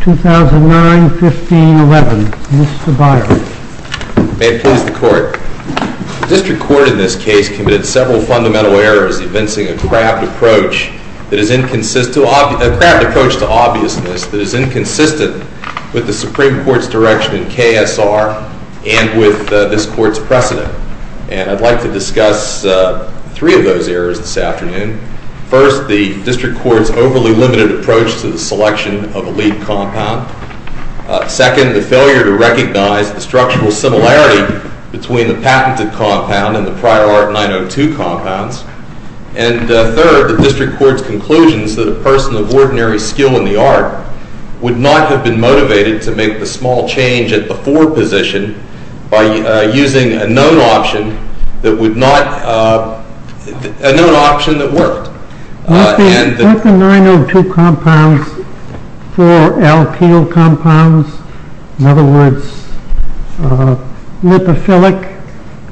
2009-15-11 Mr. Byron May it please the Court. The District Court in this case committed several fundamental errors evincing a craft approach to obviousness that is inconsistent with the Supreme Court's direction in KSR and with this Court's precedent. And I'd like to discuss three of those errors this afternoon. First, the District Court's overly limited approach to the selection of a lead compound. Second, the failure to recognize the structural similarity between the patented compound and the prior Art 902 compounds. And third, the District Court's conclusions that a person of ordinary skill in the art would not have been motivated to make the small change at the for position by using a known option that would not, a known option that worked. Mr. Byron. With the 902 compounds for alkyl compounds, in other words, lipophilic,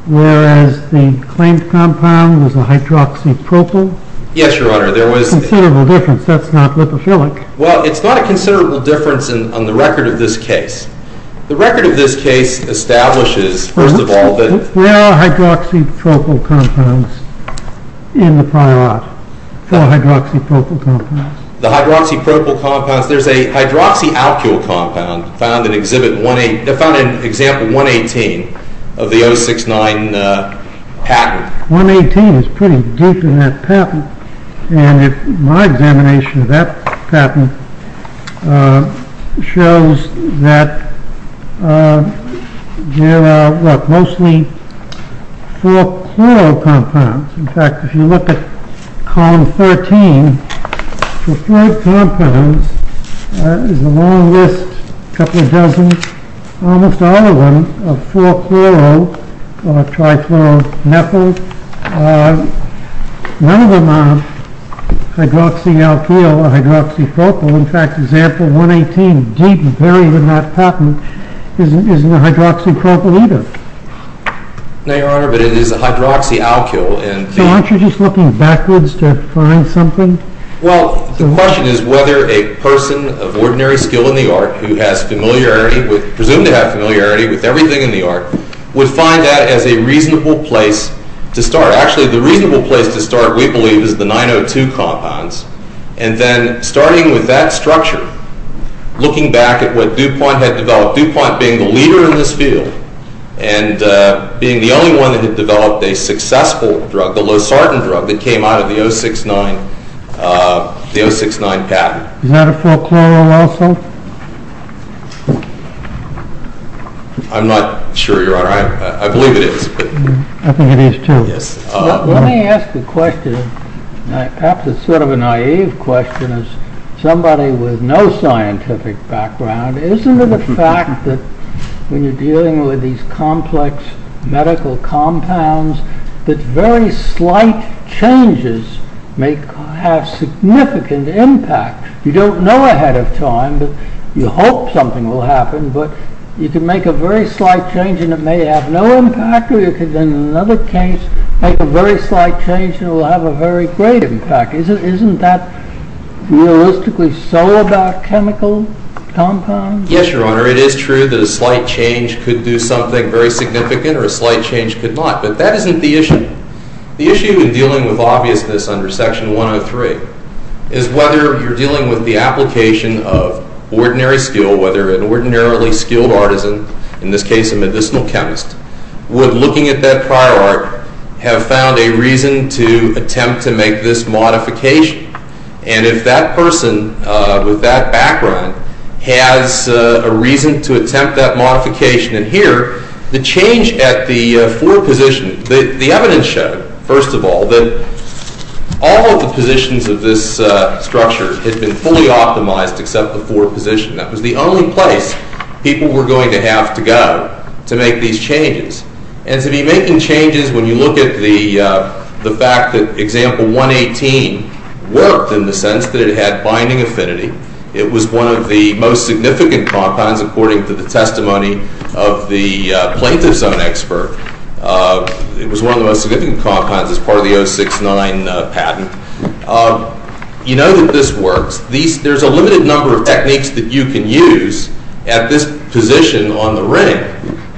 whereas the claimed compound was a hydroxypropyl? Yes, Your Honor. There was considerable difference. That's not lipophilic. Well, it's not a considerable difference on the record of this case. The record of this case establishes, first of all, that there are hydroxypropyl compounds in the prior Art. There are hydroxypropyl compounds. The hydroxypropyl compounds. There's a hydroxyalkyl compound found in Exhibit 18, found in Example 118 of the 069 patent. 118 is pretty deep in that patent. And my examination of that patent shows that there are mostly 4-chloro compounds. In fact, if you look at Column 13, for 3 compounds, there's a long list, a couple of dozens, almost all of them are 4-chloro or trifluoromethyl. None of them are hydroxyalkyl or hydroxypropyl. In fact, Example 118, deep and buried in that patent, isn't a hydroxypropyl either. No, Your Honor, but it is a hydroxyalkyl. So aren't you just looking backwards to find something? Well, the question is whether a person of ordinary skill in the Art who has familiarity with, everything in the Art, would find that as a reasonable place to start. Actually, the reasonable place to start, we believe, is the 902 compounds. And then starting with that structure, looking back at what DuPont had developed, DuPont being the leader in this field and being the only one that had developed a successful drug, the Losartan drug that came out of the 069 patent. Is that a 4-chloro also? I'm not sure, Your Honor. I believe it is. I think it is too. Let me ask a question. Perhaps it's sort of a naive question as somebody with no scientific background. Isn't it a fact that when you're dealing with these complex medical compounds, that very slight changes may have significant impact? You don't know ahead of time, but you hope something will happen, but you can make a very slight change and it may have no impact, or you can, in another case, make a very slight change and it will have a very great impact. Isn't that realistically so about chemical compounds? Yes, Your Honor. It is true that a slight change could do something very significant, or a slight change could not. But that isn't the issue. The issue in dealing with obviousness under Section 103 is whether you're dealing with the application of ordinary skill, or whether an ordinarily skilled artisan, in this case a medicinal chemist, would, looking at that prior art, have found a reason to attempt to make this modification, and if that person with that background has a reason to attempt that modification. And here, the change at the 4 position, the evidence showed, first of all, that all of the positions of this structure had been fully optimized except the 4 position. That was the only place people were going to have to go to make these changes. And to be making changes, when you look at the fact that Example 118 worked, in the sense that it had binding affinity, it was one of the most significant compounds according to the testimony of the plaintiff's own expert. It was one of the most significant compounds as part of the 069 patent. You know that this works. There's a limited number of techniques that you can use at this position on the ring.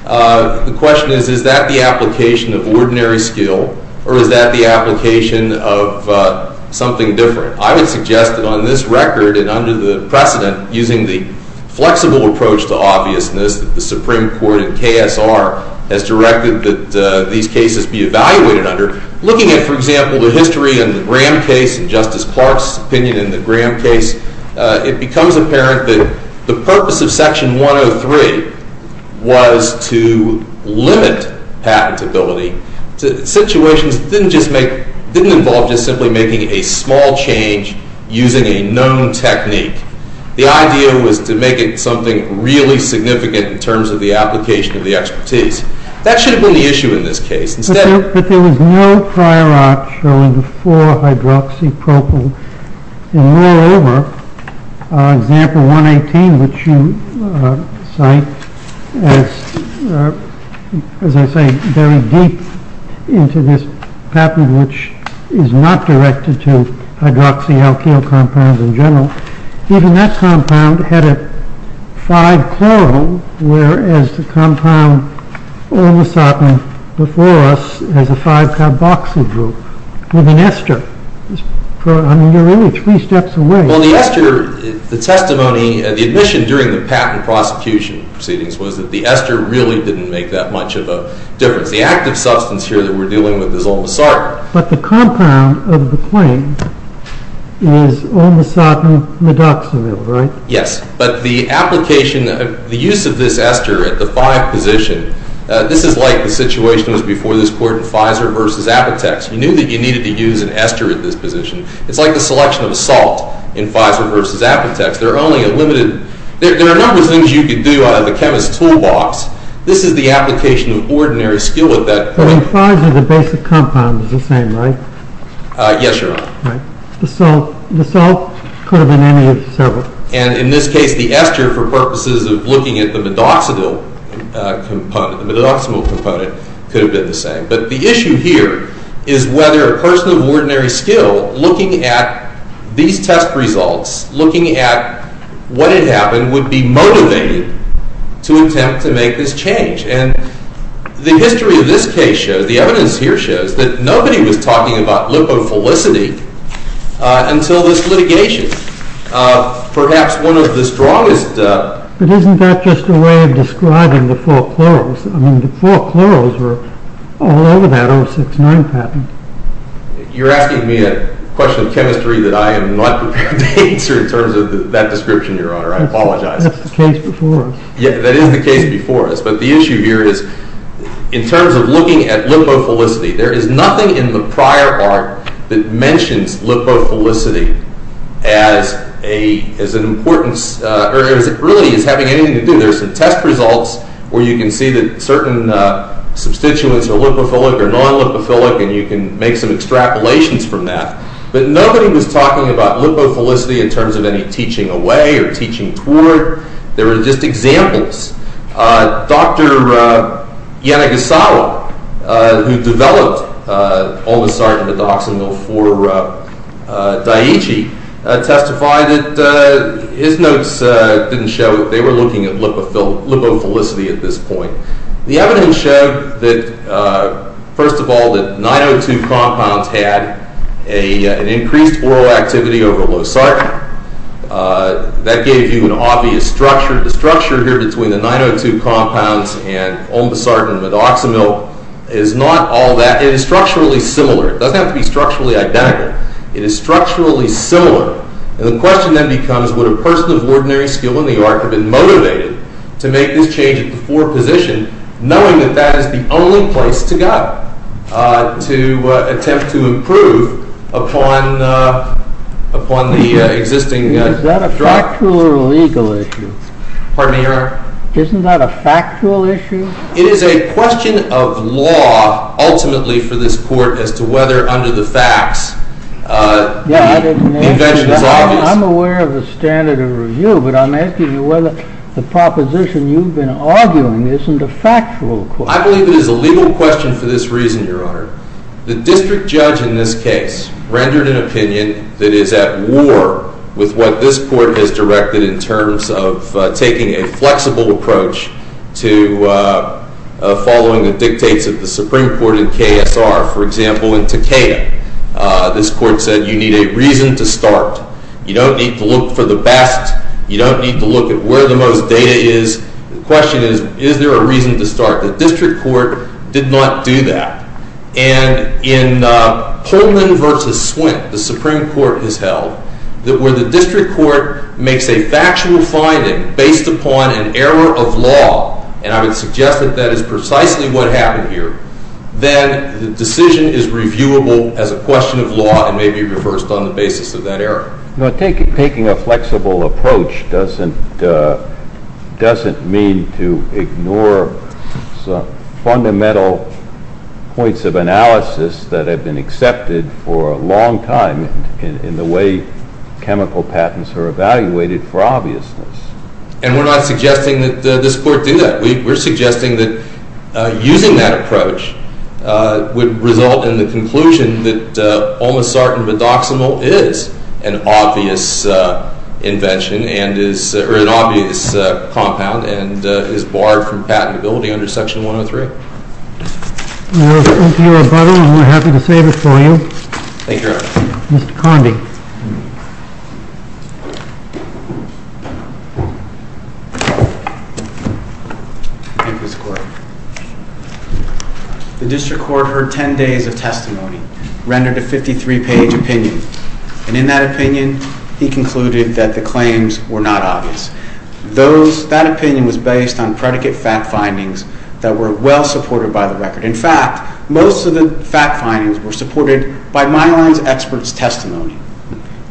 The question is, is that the application of ordinary skill, or is that the application of something different? I would suggest that on this record and under the precedent, using the flexible approach to obviousness that the Supreme Court and KSR has directed that these cases be evaluated under, looking at, for example, the history in the Graham case and Justice Clark's opinion in the Graham case, it becomes apparent that the purpose of Section 103 was to limit patentability. Situations didn't involve just simply making a small change using a known technique. The idea was to make it something really significant in terms of the application of the expertise. That should have been the issue in this case. But there was no prior art showing the 4-hydroxypropyl. And moreover, example 118, which you cite, as I say, buried deep into this patent, which is not directed to hydroxyalkyl compounds in general. Even that compound had a 5-chloro, whereas the compound olmosatin before us has a 5-carboxydro, with an ester. I mean, you're only three steps away. Well, the ester, the testimony, the admission during the patent prosecution proceedings was that the ester really didn't make that much of a difference. The active substance here that we're dealing with is olmosar. But the compound of the claim is olmosatin medoxavir, right? Yes. But the application, the use of this ester at the 5 position, this is like the situation that was before this court in Pfizer versus Apotex. You knew that you needed to use an ester at this position. It's like the selection of a salt in Pfizer versus Apotex. There are only a limited, there are a number of things you could do out of the chemist's toolbox. This is the application of ordinary skill at that point. But in Pfizer, the basic compound is the same, right? Yes, Your Honor. The salt could have been any of the several. And in this case, the ester, for purposes of looking at the medoxavir component, the medoxavir component could have been the same. But the issue here is whether a person of ordinary skill, looking at these test results, looking at what had happened, would be motivated to attempt to make this change. And the history of this case shows, the evidence here shows, that nobody was talking about lipophilicity until this litigation. Perhaps one of the strongest... But isn't that just a way of describing the four chloros? I mean, the four chloros were all over that 069 pattern. You're asking me a question of chemistry that I am not prepared to answer in terms of that description, Your Honor. I apologize. That's the case before us. Yeah, that is the case before us. But the issue here is, in terms of looking at lipophilicity, there is nothing in the prior part that mentions lipophilicity as an important... or as it really is having anything to do. There are some test results where you can see that certain substituents are lipophilic or non-lipophilic, and you can make some extrapolations from that. But nobody was talking about lipophilicity in terms of any teaching away or teaching toward. There were just examples. Dr. Yanagisawa, who developed oligosaccharides for Daiichi, testified that his notes didn't show that they were looking at lipophilicity at this point. The evidence showed that, first of all, that 902 compounds had an increased oral activity over low sarcoma. That gave you an obvious structure. The structure here between the 902 compounds and ombosartan and medoxamil is not all that... It is structurally similar. It doesn't have to be structurally identical. It is structurally similar. And the question then becomes, would a person of ordinary skill in the art have been motivated to make this change at the fore position, knowing that that is the only place to go to attempt to improve upon the existing... Is that a factual or legal issue? Pardon me, Your Honor? Isn't that a factual issue? It is a question of law, ultimately, for this court as to whether under the facts the invention is obvious. I'm aware of the standard of review, but I'm asking you whether the proposition you've been arguing isn't a factual question. Well, I believe it is a legal question for this reason, Your Honor. The district judge in this case rendered an opinion that is at war with what this court has directed in terms of taking a flexible approach to following the dictates of the Supreme Court and KSR. For example, in Takeda, this court said, you need a reason to start. You don't need to look for the best. You don't need to look at where the most data is. The question is, is there a reason to start? The district court did not do that. And in Pullman v. Swint, the Supreme Court has held that where the district court makes a factual finding based upon an error of law, and I would suggest that that is precisely what happened here, then the decision is reviewable as a question of law and may be reversed on the basis of that error. Taking a flexible approach doesn't mean to ignore some fundamental points of analysis that have been accepted for a long time in the way chemical patents are evaluated for obviousness. And we're not suggesting that this court do that. We're suggesting that using that approach would result in the conclusion that this is an obvious compound and is barred from patentability under Section 103. Thank you, Your Honor. I'm more than happy to save it for you. Thank you, Your Honor. Mr. Condi. Thank you, Mr. Court. The district court heard 10 days of testimony, rendered a 53-page opinion, and in that opinion, he concluded that the claims were not obvious. That opinion was based on predicate fact findings that were well supported by the record. In fact, most of the fact findings were supported by Myline's expert's testimony.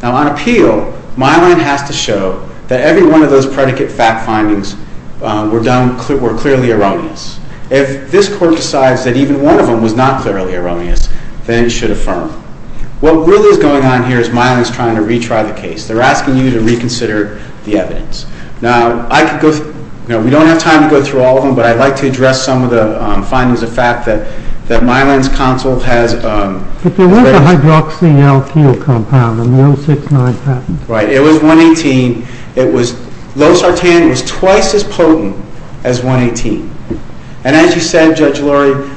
Now, on appeal, Myline has to show that every one of those predicate fact findings were clearly erroneous. If this court decides that even one of them was not clearly erroneous, then it should affirm. What really is going on here is Myline is trying to retry the case. They're asking you to reconsider the evidence. Now, we don't have time to go through all of them, but I'd like to address some of the findings, the fact that Myline's counsel has... But there was a hydroxyalkyl compound in the 069 patent. Right. It was 118. Losartan was twice as potent as 118. And as you said, Judge Lurie,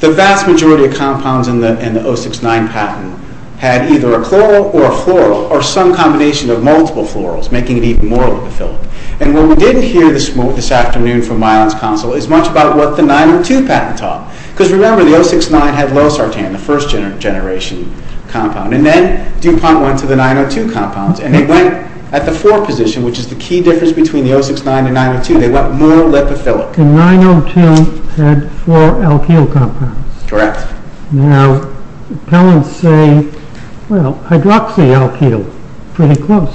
the vast majority of compounds in the 069 patent had either a chloral or a floral or some combination of multiple florals, making it even more lipophilic. And what we didn't hear this afternoon from Myline's counsel is much about what the 902 patent taught. Because remember, the 069 had Losartan, the first-generation compound. And then DuPont went to the 902 compounds, and they went at the 4 position, which is the key difference between the 069 and 902. They went more lipophilic. The 902 had 4 alkyl compounds. Correct. Now, appellants say, well, hydroxyalkyl. Pretty close.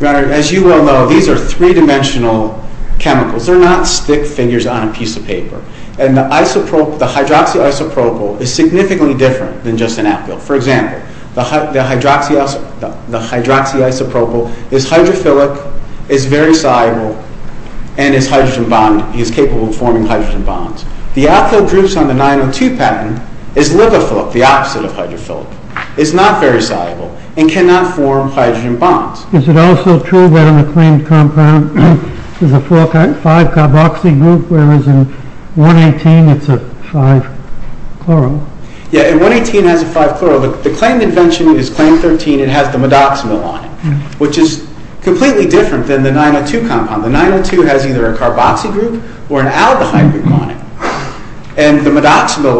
Your Honor, as you well know, these are 3-dimensional chemicals. They're not stick figures on a piece of paper. And the hydroxyisopropyl is significantly different than just an alkyl. For example, the hydroxyisopropyl is hydrophilic, is very soluble, and is capable of forming hydrogen bonds. The alkyl groups on the 902 patent is lipophilic, the opposite of hydrophilic. It's not very soluble, and cannot form hydrogen bonds. Is it also true that in a claimed compound there's a 5-carboxy group, whereas in 118 it's a 5-chloro? Yeah, and 118 has a 5-chloro. The claimed invention is claimed 13. It has the modoximil on it, which is completely different than the 902 compound. The 902 has either a carboxy group or an aldehyde group on it. And the modoximil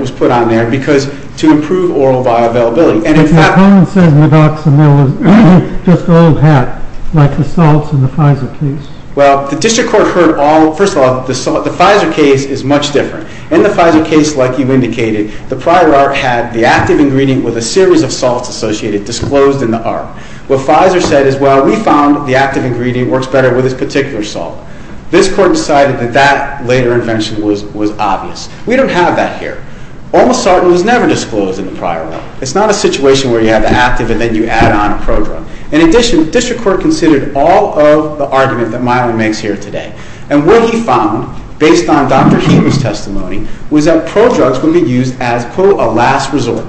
was put on there to improve oral bioavailability. But your opponent says modoximil is just an old hat, like the salts in the Pfizer case. Well, the District Court heard all... First of all, the Pfizer case is much different. In the Pfizer case, like you indicated, the prior art had the active ingredient with a series of salts associated, disclosed in the art. What Pfizer said is, well, we found the active ingredient works better with this particular salt. This court decided that that later invention was obvious. We don't have that here. Almost salt was never disclosed in the prior one. It's not a situation where you have the active and then you add on a prodrug. In addition, the District Court considered all of the argument that Milan makes here today. And what he found, based on Dr. Healy's testimony, was that prodrugs would be used as, quote, a last resort.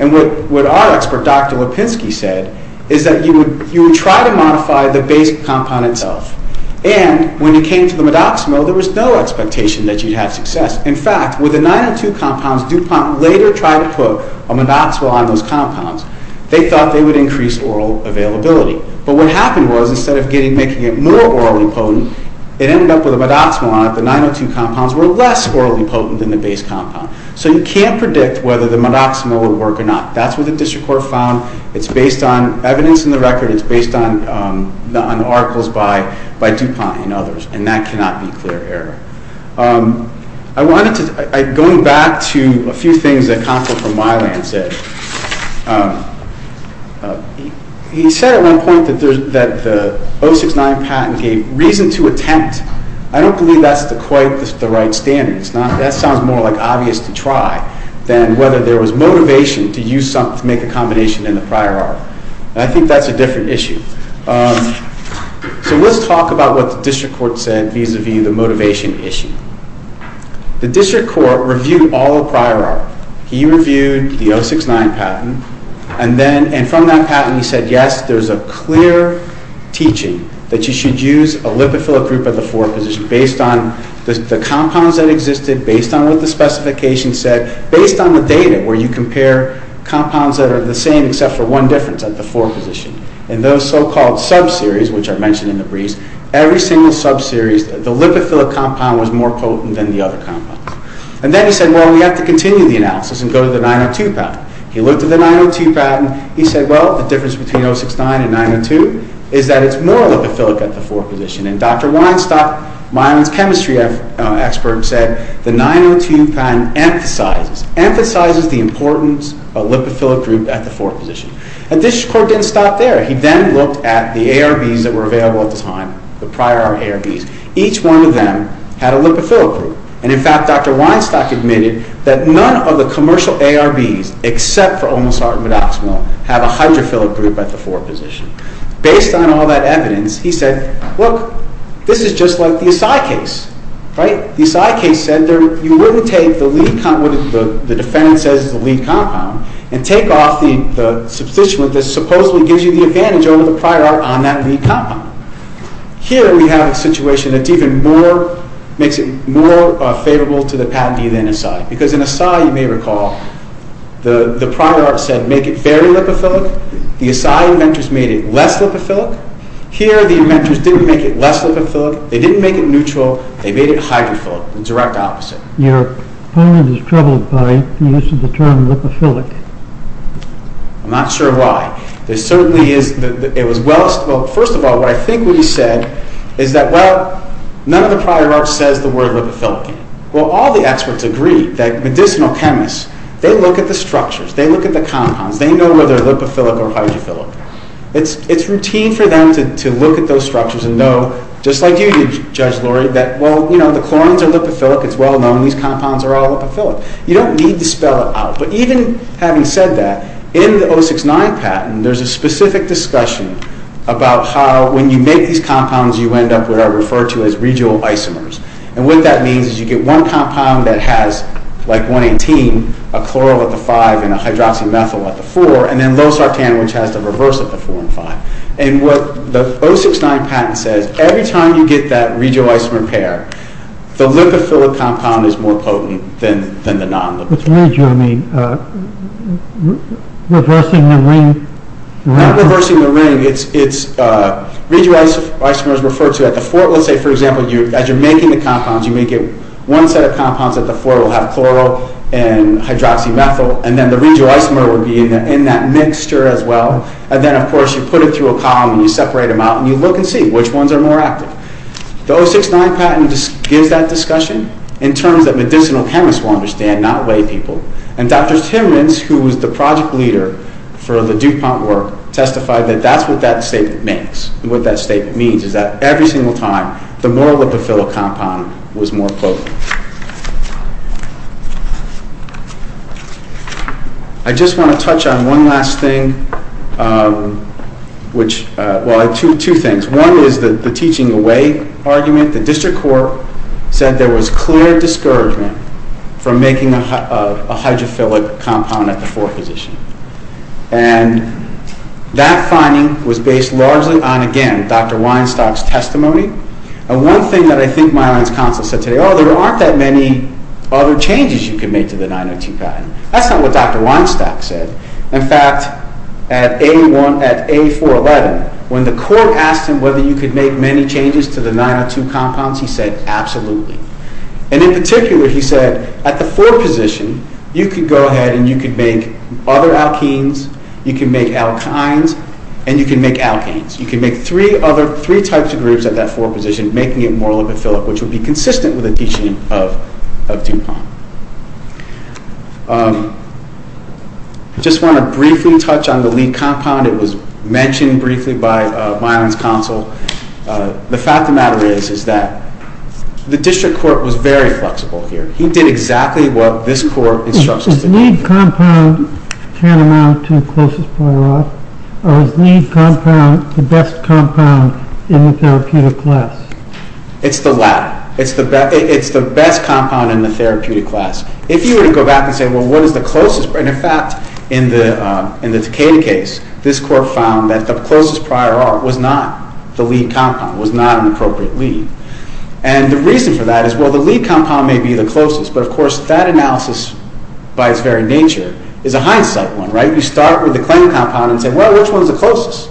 And what our expert, Dr. Lipinski said, is that you would try to modify the base compound itself. And when you came to the modoximo, there was no expectation that you'd have success. In fact, with the 902 compounds, DuPont later tried to put a modoximo on those compounds. They thought they would increase oral availability. But what happened was, instead of making it more orally potent, it ended up with a modoximo on it. The 902 compounds were less orally potent than the base compound. So you can't predict whether the modoximo would work or not. That's what the District Court found. It's based on evidence in the record. It's based on articles by DuPont and others. And that cannot be clear error. Going back to a few things that Counsel from Milan said, he said at one point that the 069 patent gave reason to attempt. I don't believe that's quite the right standard. That sounds more like obvious to try than whether there was motivation to make a combination in the prior art. I think that's a different issue. So let's talk about what the District Court said vis-a-vis the motivation issue. The District Court reviewed all prior art. He reviewed the 069 patent. And from that patent, he said, yes, there's a clear teaching that you should use a lipophilic group at the 4 position based on the compounds that existed, based on what the specification said, based on the data where you compare compounds that are the same except for one difference at the 4 position. And those so-called sub-series, which are mentioned in the briefs, every single sub-series, the lipophilic compound was more potent than the other compounds. And then he said, well, we have to continue the analysis and go to the 902 patent. He looked at the 902 patent. He said, well, the difference between 069 and 902 is that it's more potent. Dr. Weinstock, Milan's chemistry expert, said the 902 patent emphasizes, emphasizes the importance of lipophilic group at the 4 position. And the District Court didn't stop there. He then looked at the ARBs that were available at the time, the prior ARBs. Each one of them had a lipophilic group. And in fact, Dr. Weinstock admitted that none of the commercial ARBs except for Omosart and Vidoximil have a hydrophilic group at the 4 position. Based on all that evidence, he said, look, this is just like the Assay case. The Assay case said you wouldn't take the lead, what the defendant says is the lead compound, and take off the substituent that supposedly gives you the advantage over the prior ARB on that lead compound. Here we have a situation that's even more makes it more favorable to the patentee than Assay. Because in Assay, you may recall, the prior ARB said make it very lipophilic. The Assay inventors made it less lipophilic. Here the inventors didn't make it less lipophilic, they didn't make it neutral, they made it hydrophilic, the direct opposite. Your opponent is troubled by the use of the term lipophilic. I'm not sure why. There certainly is. First of all, what I think what he said is that, well, none of the prior ARBs says the word lipophilic. Well, all the experts agree that medicinal chemists, they look at the structures, they look at the compounds, they know whether they're lipophilic or hydrophilic. It's routine for them to look at those structures and know, just like you did, Judge Laurie, that, well, you know, the chlorines are lipophilic, it's well known, these compounds are all lipophilic. You don't need to spell it out. But even having said that, in the 069 patent, there's a specific discussion about how, when you make these compounds, you end up with what I refer to as regional isomers. And what that means is you get one compound that has, like 118, a chloryl at the 5 and a hydroxymethyl at the 4, and then Losartan, which has the reverse of the 4 and 5. And what the 069 patent says, every time you get that regional isomer pair, the lipophilic compound is more potent than the non-lipophilic. What's regional mean? Reversing the ring? Not reversing the ring, it's regional isomers referred to at the 4. Let's say, for example, as you're making the compounds, you may get one set of compounds at the 4 that will have chloryl and hydroxymethyl, and then the regional isomer will be in that mixture as well. And then, of course, you put it through a column, and you separate them out, and you look and see which ones are more active. The 069 patent gives that discussion in terms that medicinal chemists will understand, not laypeople. And Dr. Timmons, who was the project leader for the DuPont work, testified that that's what that statement means. And what that statement means is that every single time, the more lipophilic compound was more potent. I just want to touch on one last thing, which, well, two things. One is the teaching away argument. The district court said there was clear discouragement from making a hydrophilic compound at the 4 position. And that finding was based largely on, again, Dr. Weinstock's testimony. And one thing that I think Myron's counsel said today, oh, there aren't that many other 902 compounds. That's not what Dr. Weinstock said. In fact, at A411, when the court asked him whether you could make many changes to the 902 compounds, he said, absolutely. And in particular, he said, at the 4 position, you could go ahead and you could make other alkenes, you can make alkynes, and you can make alkenes. You can make three types of groups at that 4 position, making it more lipophilic, which would be consistent with the teaching of the compound. I just want to briefly touch on the lead compound. It was mentioned briefly by Myron's counsel. The fact of the matter is, is that the district court was very flexible here. He did exactly what this court instructed him to do. Is lead compound tantamount to closest point or not? Or is lead compound the best compound in the therapeutic class? It's the latter. It's the best compound in the therapeutic class. If you were to go back and say, well, what is the closest and, in fact, in the Takeda case, this court found that the closest prior art was not the lead compound, was not an appropriate lead. And the reason for that is, well, the lead compound may be the closest, but, of course, that analysis by its very nature is a hindsight one, right? You start with the claim compound and say, well, which one is the closest?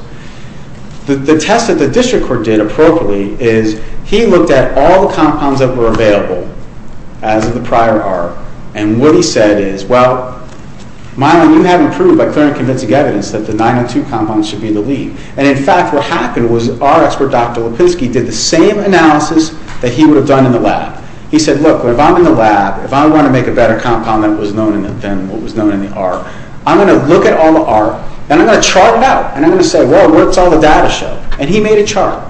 The test that the district court did appropriately is, he looked at all the compounds that were available as of the prior art, and what he said is, well, Mylon, you have proved by clear and convincing evidence that the 902 compound should be the lead. And, in fact, what happened was our expert, Dr. Lipinski, did the same analysis that he would have done in the lab. He said, look, if I'm in the lab, if I want to make a better compound than what was known in the art, I'm going to look at all the art, and I'm going to chart it out. And I'm going to say, well, where does all the data show? And he made a chart.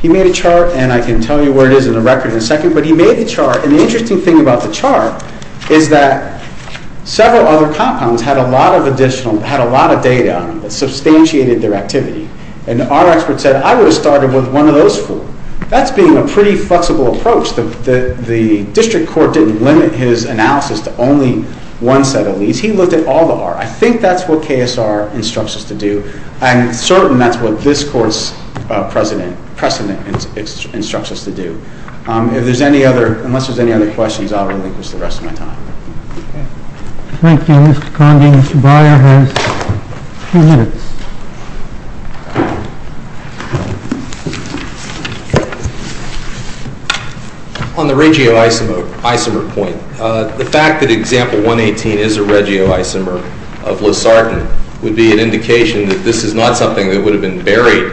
He made a chart, and I can tell you where it is in the record in a second, but he made a chart, and the interesting thing about the chart is that several other compounds had a lot of additional, had a lot of data on them that substantiated their activity. And our expert said, I would have started with one of those four. That's being a pretty flexible approach. The district court didn't limit his analysis to only one set of leads. He looked at all the art. I think that's what KSR instructs us to do. I'm certain that's what this court's precedent instructs us to do. If there's any other, unless there's any other questions, I'll relinquish the rest of my time. Thank you, Mr. Condon. Mr. Breyer has two minutes. On the regioisomer point, the fact that example 118 is a regioisomer of Losartan would be an indication that this is not something that would have been buried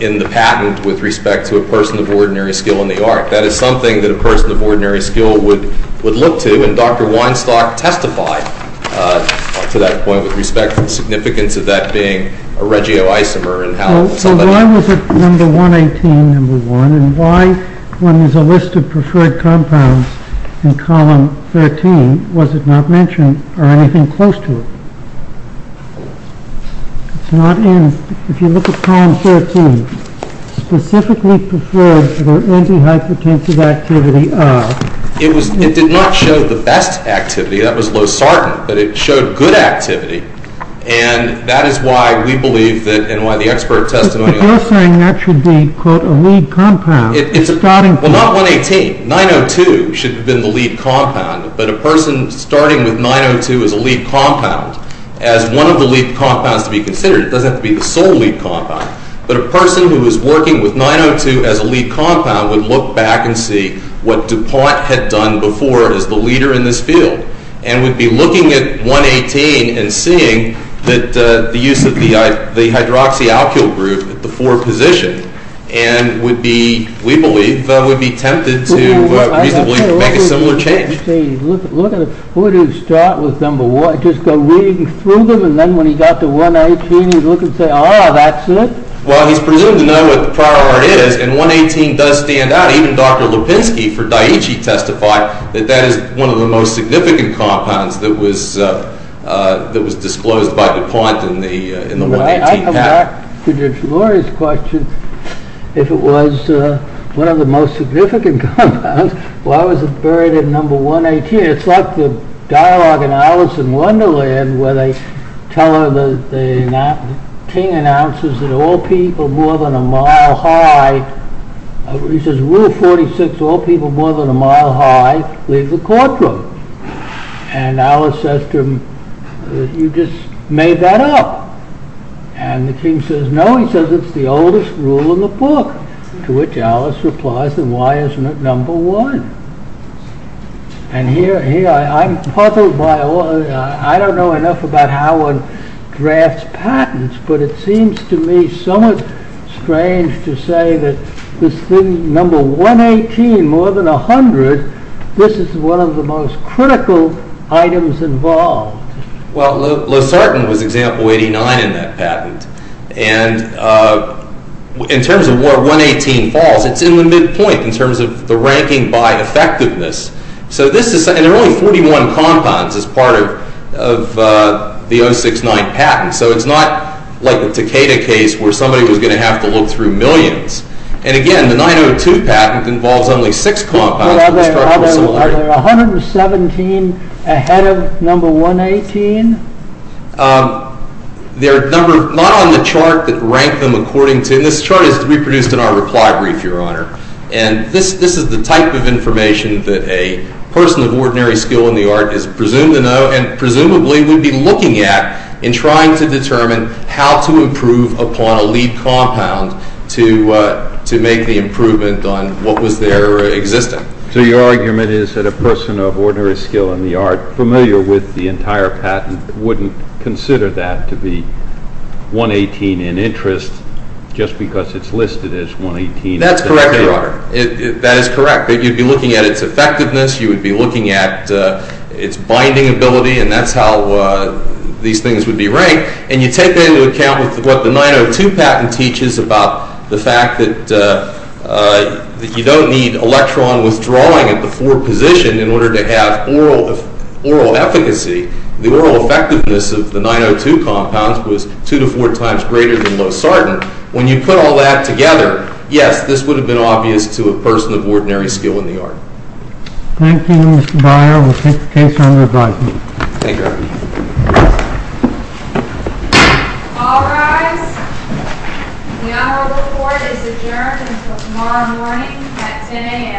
in the patent with respect to a person of ordinary skill in the art. That is something that a person of ordinary skill would look to, and Dr. Weinstock testified to that point with respect to the significance of that being a regioisomer. So why was it number 118, number one, and why, when there's a list of preferred compounds in column 13, was it not mentioned or anything close to it? It's not in. If you look at column 13, specifically preferred for antihypertensive activity are It did not show the best activity. That was Losartan, but it showed good activity, and that is why we believe that and why the expert testimony But you're saying that should be, quote, a lead compound Well, not 118. 902 should have been the lead compound, but a person starting with 902 as a lead compound as one of the lead compounds to be considered, it doesn't have to be the sole lead compound, but a person who is working with 902 as a lead compound would look back and see what DuPont had done before as the leader in this field, and would be looking at 118 and seeing that the use of the hydroxyalkyl group at the 4 position, and would be we believe, would be tempted to reasonably make a similar change. Look at who would start with number 1 just go reading through them, and then when he got to 118, he'd look and say, ah, that's it? Well, he's presumed to know what the prior order is, and 118 does stand out. Even Dr. Lipinski for Daiichi testified that that is one of the most significant compounds that was disclosed by DuPont in the 118 pact. Right, I come back to George Laurie's question, if it was one of the most significant compounds, why was it number 118? It's like the dialogue in Alice in Wonderland where they tell her that the king announces that all people more than a mile high, he says rule 46, all people more than a mile high leave the courtroom, and Alice says to him, you just made that up, and the king says, no, he says it's the oldest rule in the book, to which Alice replies, then why isn't it number one? And here, I'm puzzled by all, I don't know enough about how one drafts patents, but it seems to me somewhat strange to say that this thing, number 118, more than a hundred, this is one of the most critical items involved. Well, LoSartan was example 89 in that patent, and, ah, in terms of where 118 falls, it's in the midpoint, in terms of the ranking by effectiveness, so this is, and there are only 41 compounds as part of the 069 patent, so it's not like the Takeda case where somebody was going to have to look through millions, and again, the 902 patent involves only 6 compounds, Are there 117 ahead of number 118? Um, there are a number, not on the chart that rank them according to, and this chart is reproduced in our reply brief, Your Honor, and this, this is the type of information that a person of ordinary skill in the art is presumed to know, and presumably would be looking at in trying to determine how to improve upon a lead compound to, ah, to make the improvement on what was there existing. So your argument is that a person of ordinary skill in the art, familiar with the entire patent, wouldn't consider that to be 118 in interest, just because it's listed as 118. That's correct, Your Honor. That is correct. You'd be looking at its effectiveness, you would be looking at its binding ability, and that's how these things would be ranked, and you take that into account with what the 902 patent teaches about the fact that you don't need electron withdrawing at the 4 position in order to have oral efficacy. The oral effectiveness of the 902 compounds was 2 to 4 times greater than Losartan. When you put all that together, yes, this would have been obvious to a person of ordinary skill in the art. Thank you, Mr. Breyer. We'll take the case under advisement. Thank you, Your Honor. All rise. The Honorable Court is adjourned until tomorrow morning at 10 a.m. Court is adjourned.